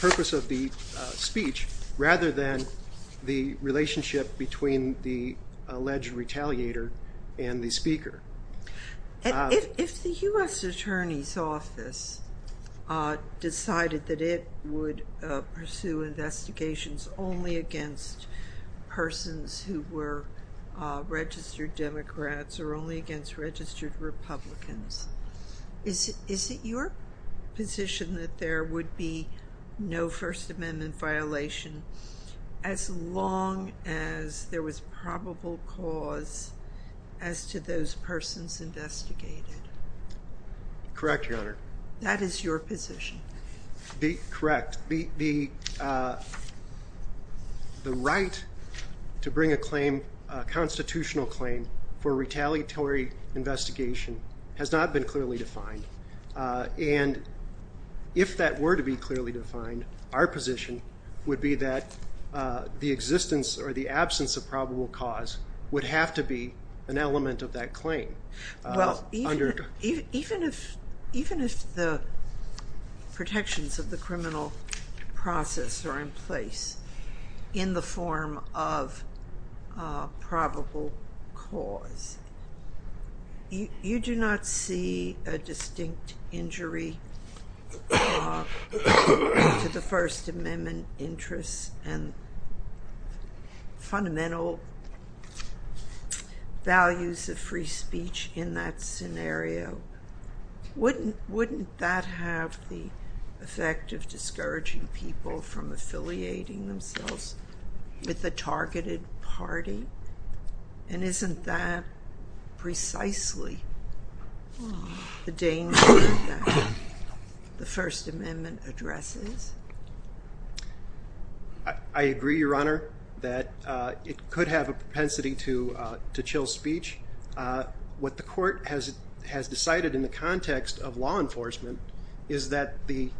purpose of the speech rather than the relationship between the alleged retaliator and the speaker. If the U.S. Attorney's Office decided that it would pursue investigations only against persons who were registered Democrats or only against registered Republicans is it your position that there would be no First Amendment violation as long as there was probable cause as to those persons investigated? Correct, your honor. That is your position. Correct. The right to bring a constitutional claim for retaliatory investigation has not been clearly defined. And if that were to be clearly defined, our position would be that the existence or the absence of probable cause would have to be an element of that claim. Even if the protections of the criminal process are in place in the form of probable cause. You do not see a distinct injury to the First Amendment interests and fundamental values of free speech in that scenario. Wouldn't that have the effect of discouraging people from affiliating themselves with the targeted party? And isn't that precisely the danger that the First Amendment addresses? I agree, your honor, that it could have a propensity to chill speech. What the court has decided in the context of law enforcement is that the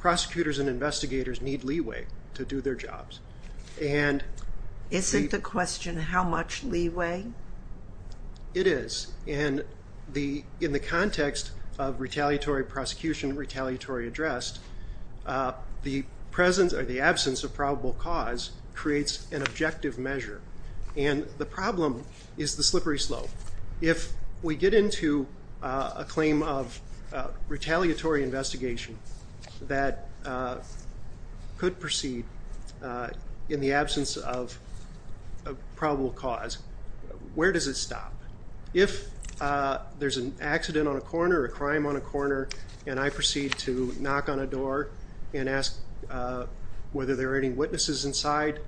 prosecutors and investigators need leeway to do their jobs. Isn't the question how much leeway? It is. In the context of retaliatory prosecution, retaliatory address, the absence of probable cause creates an objective measure. The problem is the slippery slope. If we get into a claim of retaliatory investigation that could proceed in the absence of probable cause, where does it stop? If there's an accident on a corner, a crime on a corner, and I proceed to knock on a door and ask whether there are any witnesses inside,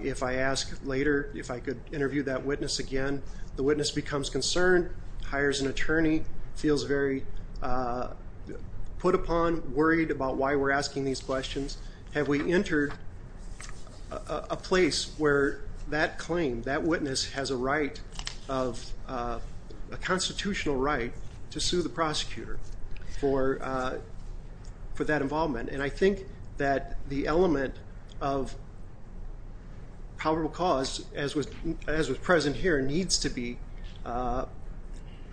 if I ask later if I could interview that witness again, the witness becomes concerned, hires an attorney, feels very put upon, worried about why we're asking these questions. Have we entered a place where that claim, that witness has a right of a constitutional right to sue the prosecutor for that involvement? And I think that the element of probable cause, as was present here, needs to be,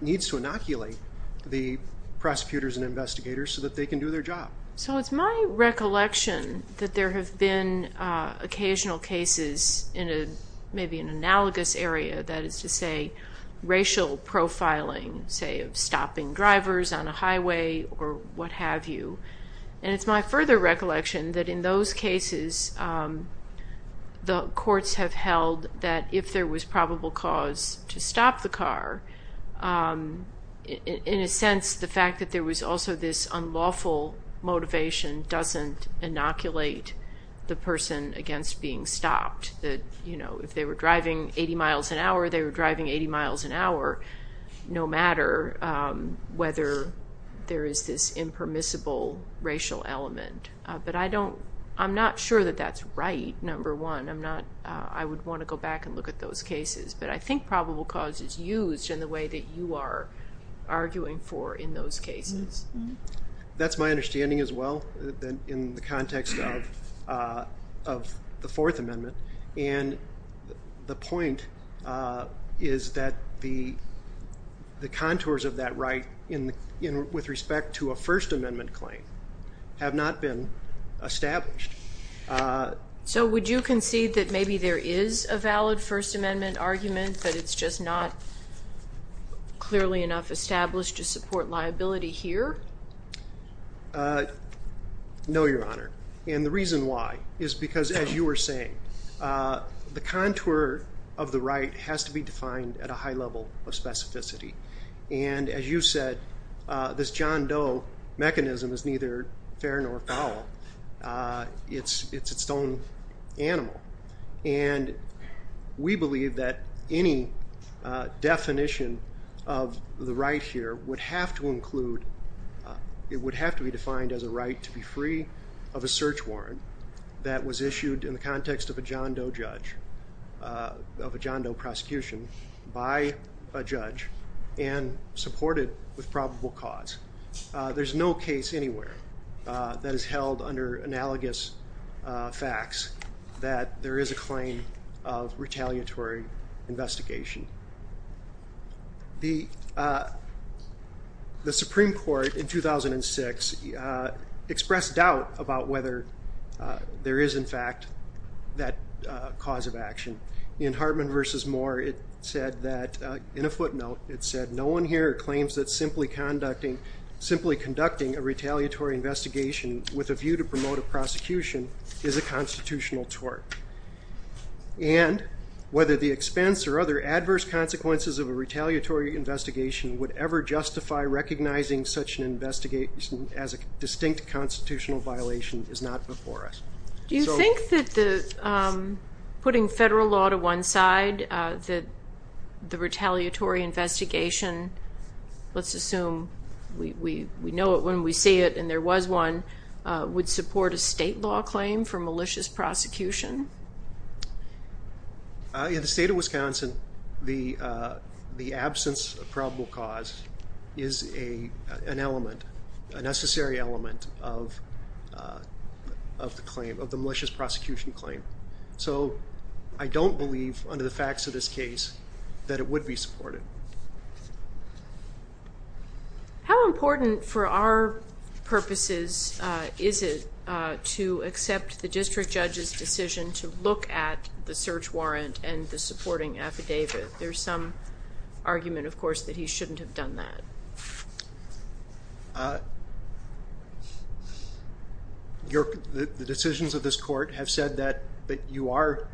needs to inoculate the prosecutors and investigators so that they can do their job. So it's my recollection that there have been occasional cases in maybe an analogous area, that is to say racial profiling, say of stopping drivers on a highway or what have you. And it's my further recollection that in those cases the courts have held that if there was probable cause to stop the car, in a sense, the fact that there was also this unlawful motivation doesn't inoculate the person against being stopped. If they were driving 80 miles an hour, they were driving 80 miles an hour, no matter whether there is this impermissible racial element. But I don't, I'm not sure that that's right, number one. I would want to go back and look at those cases, but I think probable cause is used in the way that you are arguing for in those cases. That's my understanding as well in the context of the Fourth Amendment. The point is that the contours of that right with respect to a First Amendment claim have not been established. So would you concede that maybe there is a valid First Amendment argument, but it's just not clearly enough established to support liability here? No, Your Honor. And the reason why is because, as you were saying, the contour of the right has to be defined at a high level of specificity. And as you said, this John Doe mechanism is neither fair nor foul. It's its own animal. And we believe that any definition of the right here would have to include, it would have to be defined as a right to be free of a search warrant that was issued in the context of a John Doe judge, of a John Doe prosecution by a judge and supported with probable cause. There's no case anywhere that is held under analogous facts that there is a claim of retaliatory investigation. The Supreme Court in 2006 expressed doubt about whether there is, in fact, that cause of action. In Hartman v. Moore, it said, no one here claims that simply conducting a retaliatory investigation with a view to promote a prosecution is a constitutional tort. And whether the expense or other adverse consequences of a retaliatory investigation would ever justify recognizing such an investigation as a distinct constitutional violation is not before us. Do you think that putting federal law to one side, that the retaliatory investigation, let's assume we know it when we see it and there was one, would support a state law claim for malicious prosecution? In the state of Wisconsin, the absence of probable cause is an element, a necessary element of the claim, of the malicious prosecution claim. So I don't believe, under the facts of this case, that it would be supported. How important for our purposes is it to accept the district judge's decision to look at the search warrant and the supporting affidavit? There's some argument, of course, that he shouldn't have done that. The decisions of this court have said that you are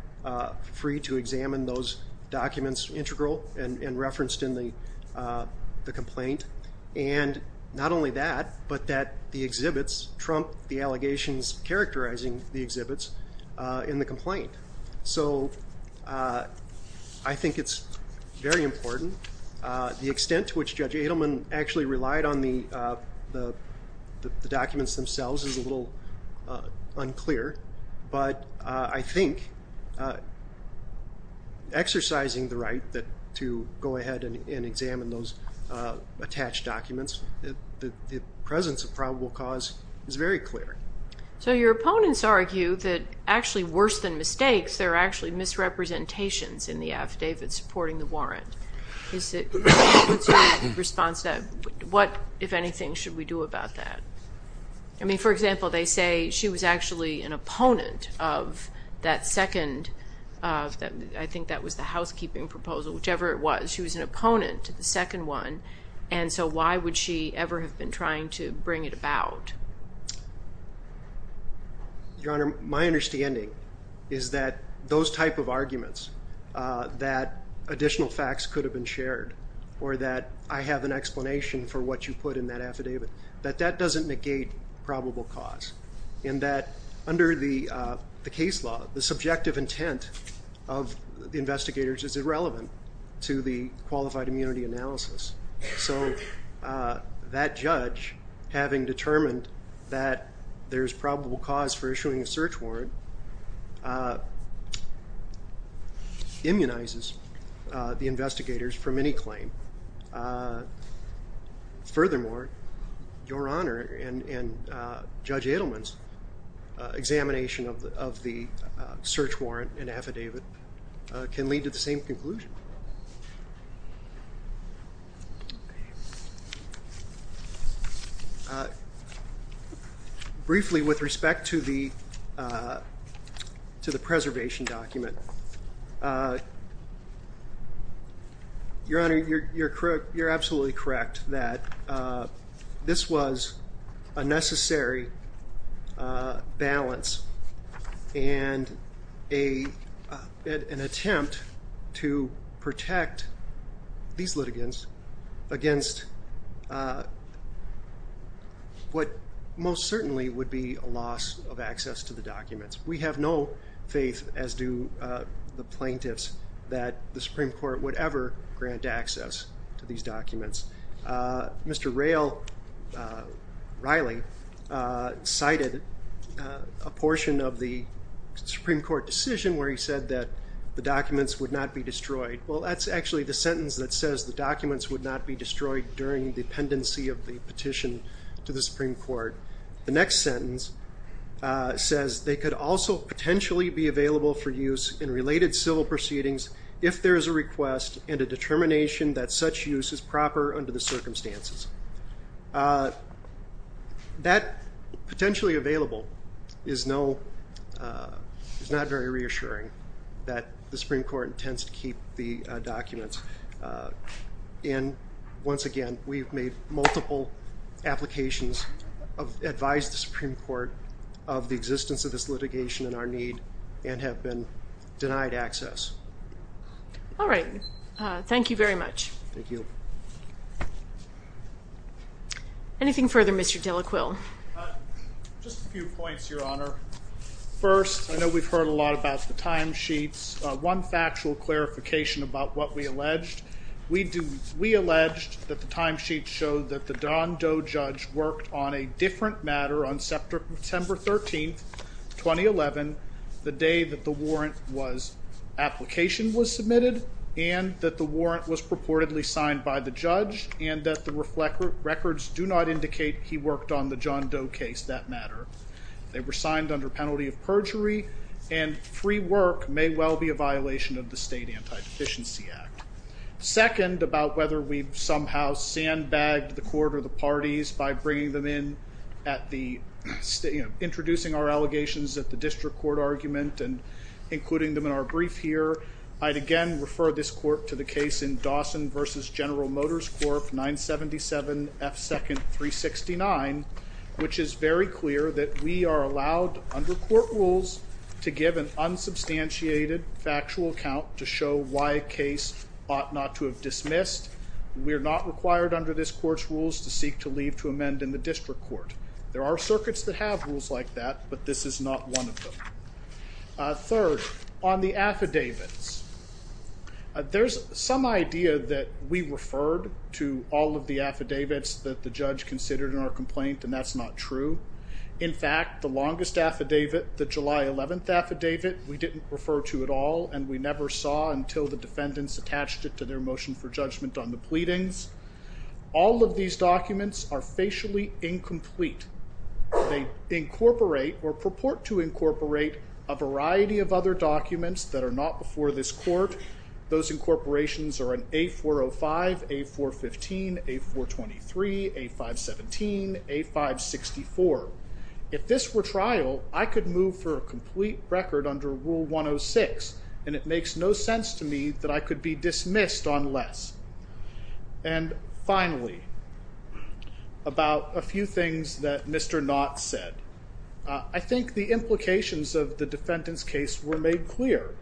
free to examine those documents integral and referenced in the complaint. And not only that, but that the exhibits trump the allegations characterizing the exhibits in the complaint. So I think it's very important. The extent to which Judge Adelman actually relied on the documents themselves is a little unclear, but I think exercising the right to go ahead and examine those attached documents, the presence of probable cause is very clear. So your opponents argue that, actually worse than mistakes, there are actually misrepresentations in the affidavit supporting the warrant. What, if anything, should we do about that? I mean, for example, they say she was actually an opponent of that second I think that was the housekeeping proposal, whichever it was. She was an opponent to the second one, and so why would she ever have been trying to bring it about? Your Honor, my understanding is that those type of arguments that additional facts could have been shared, or that I have an explanation for what you put in that affidavit, that that doesn't negate probable cause. And that under the case law, the subjective intent of the investigators is irrelevant to the qualified immunity analysis. So that judge, having determined that there's probable cause for issuing a search warrant, immunizes the investigators from any claim. Furthermore, Your Honor, and Judge Edelman's examination of the search warrant and affidavit can lead to the same conclusion. Briefly, with respect to the preservation document, Your Honor, you're absolutely correct that this was a necessary balance and an attempt to protect these litigants against what most certainly would be a loss of access to the documents. We have no faith, as do the plaintiffs, that the Supreme Court would ever grant access to these documents. Mr. Ryle cited a portion of the Supreme Court decision where he said that the documents would not be destroyed. Well, that's actually the sentence that says the documents would not be destroyed during the pendency of the petition to the Supreme Court. The next sentence says they could also potentially be available for use in related civil proceedings if there is a request and a determination that such use is proper under the circumstances. That potentially available is not very reassuring that the Supreme Court intends to keep the documents. Once again, we've made multiple applications to advise the Supreme Court of the existence of this litigation and our need and have been denied access. All right. Thank you very much. Thank you. Anything further, Mr. Delaquil? Just a few points, Your Honor. First, I know we've heard a lot about the timesheets. One factual clarification about what we alleged. We alleged that the timesheets showed that the John Doe judge worked on a different matter on September 13, 2011, the day that the warrant application was submitted and that the warrant was purportedly signed by the judge and that the records do not indicate he worked on the John Doe case that matter. They were signed under penalty of perjury and free work may well be a violation of the State Anti-Deficiency Act. Second, about whether we've somehow sandbagged the court or the parties by bringing them in at the introducing our allegations at the district court argument and including them in our brief here, I'd again refer this court to the case in Dawson v. General Motors Corp. 977 F. 2nd 369, which is very clear that we are allowed under court rules to give an unsubstantiated factual account to show why a case ought not to have dismissed. We're not required under this court's rules to seek to leave to amend in the district court. There are circuits that have rules like that, but this is not one of them. Third, on the affidavits, there's some idea that we referred to all of the affidavits that the judge considered in our complaint and that's not true. In fact, the longest affidavit, the July 11 affidavit, we didn't refer to at all and we attached it to their motion for judgment on the pleadings. All of these documents are facially incomplete. They incorporate or purport to incorporate a variety of other documents that are not before this court. Those incorporations are in A405, A415, A423, A517, A564. If this were trial, I could move for a complete record under Rule 106 and it would be dismissed unless. And finally, about a few things that Mr. Knott said. I think the implications of the defendant's case were made clear.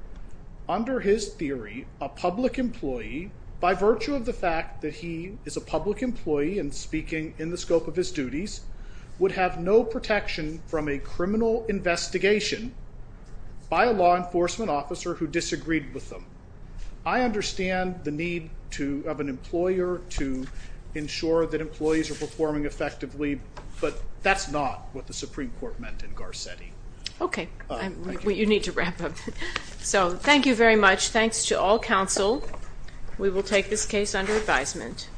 Under his theory, a public employee, by virtue of the fact that he is a public employee and speaking in the scope of his duties, would have no protection from a criminal investigation by a law enforcement officer who disagreed with him. I understand the need of an employer to ensure that employees are performing effectively, but that's not what the Supreme Court meant in Garcetti. Okay. You need to wrap up. Thank you very much. Thanks to all counsel. We will take this case under advisement.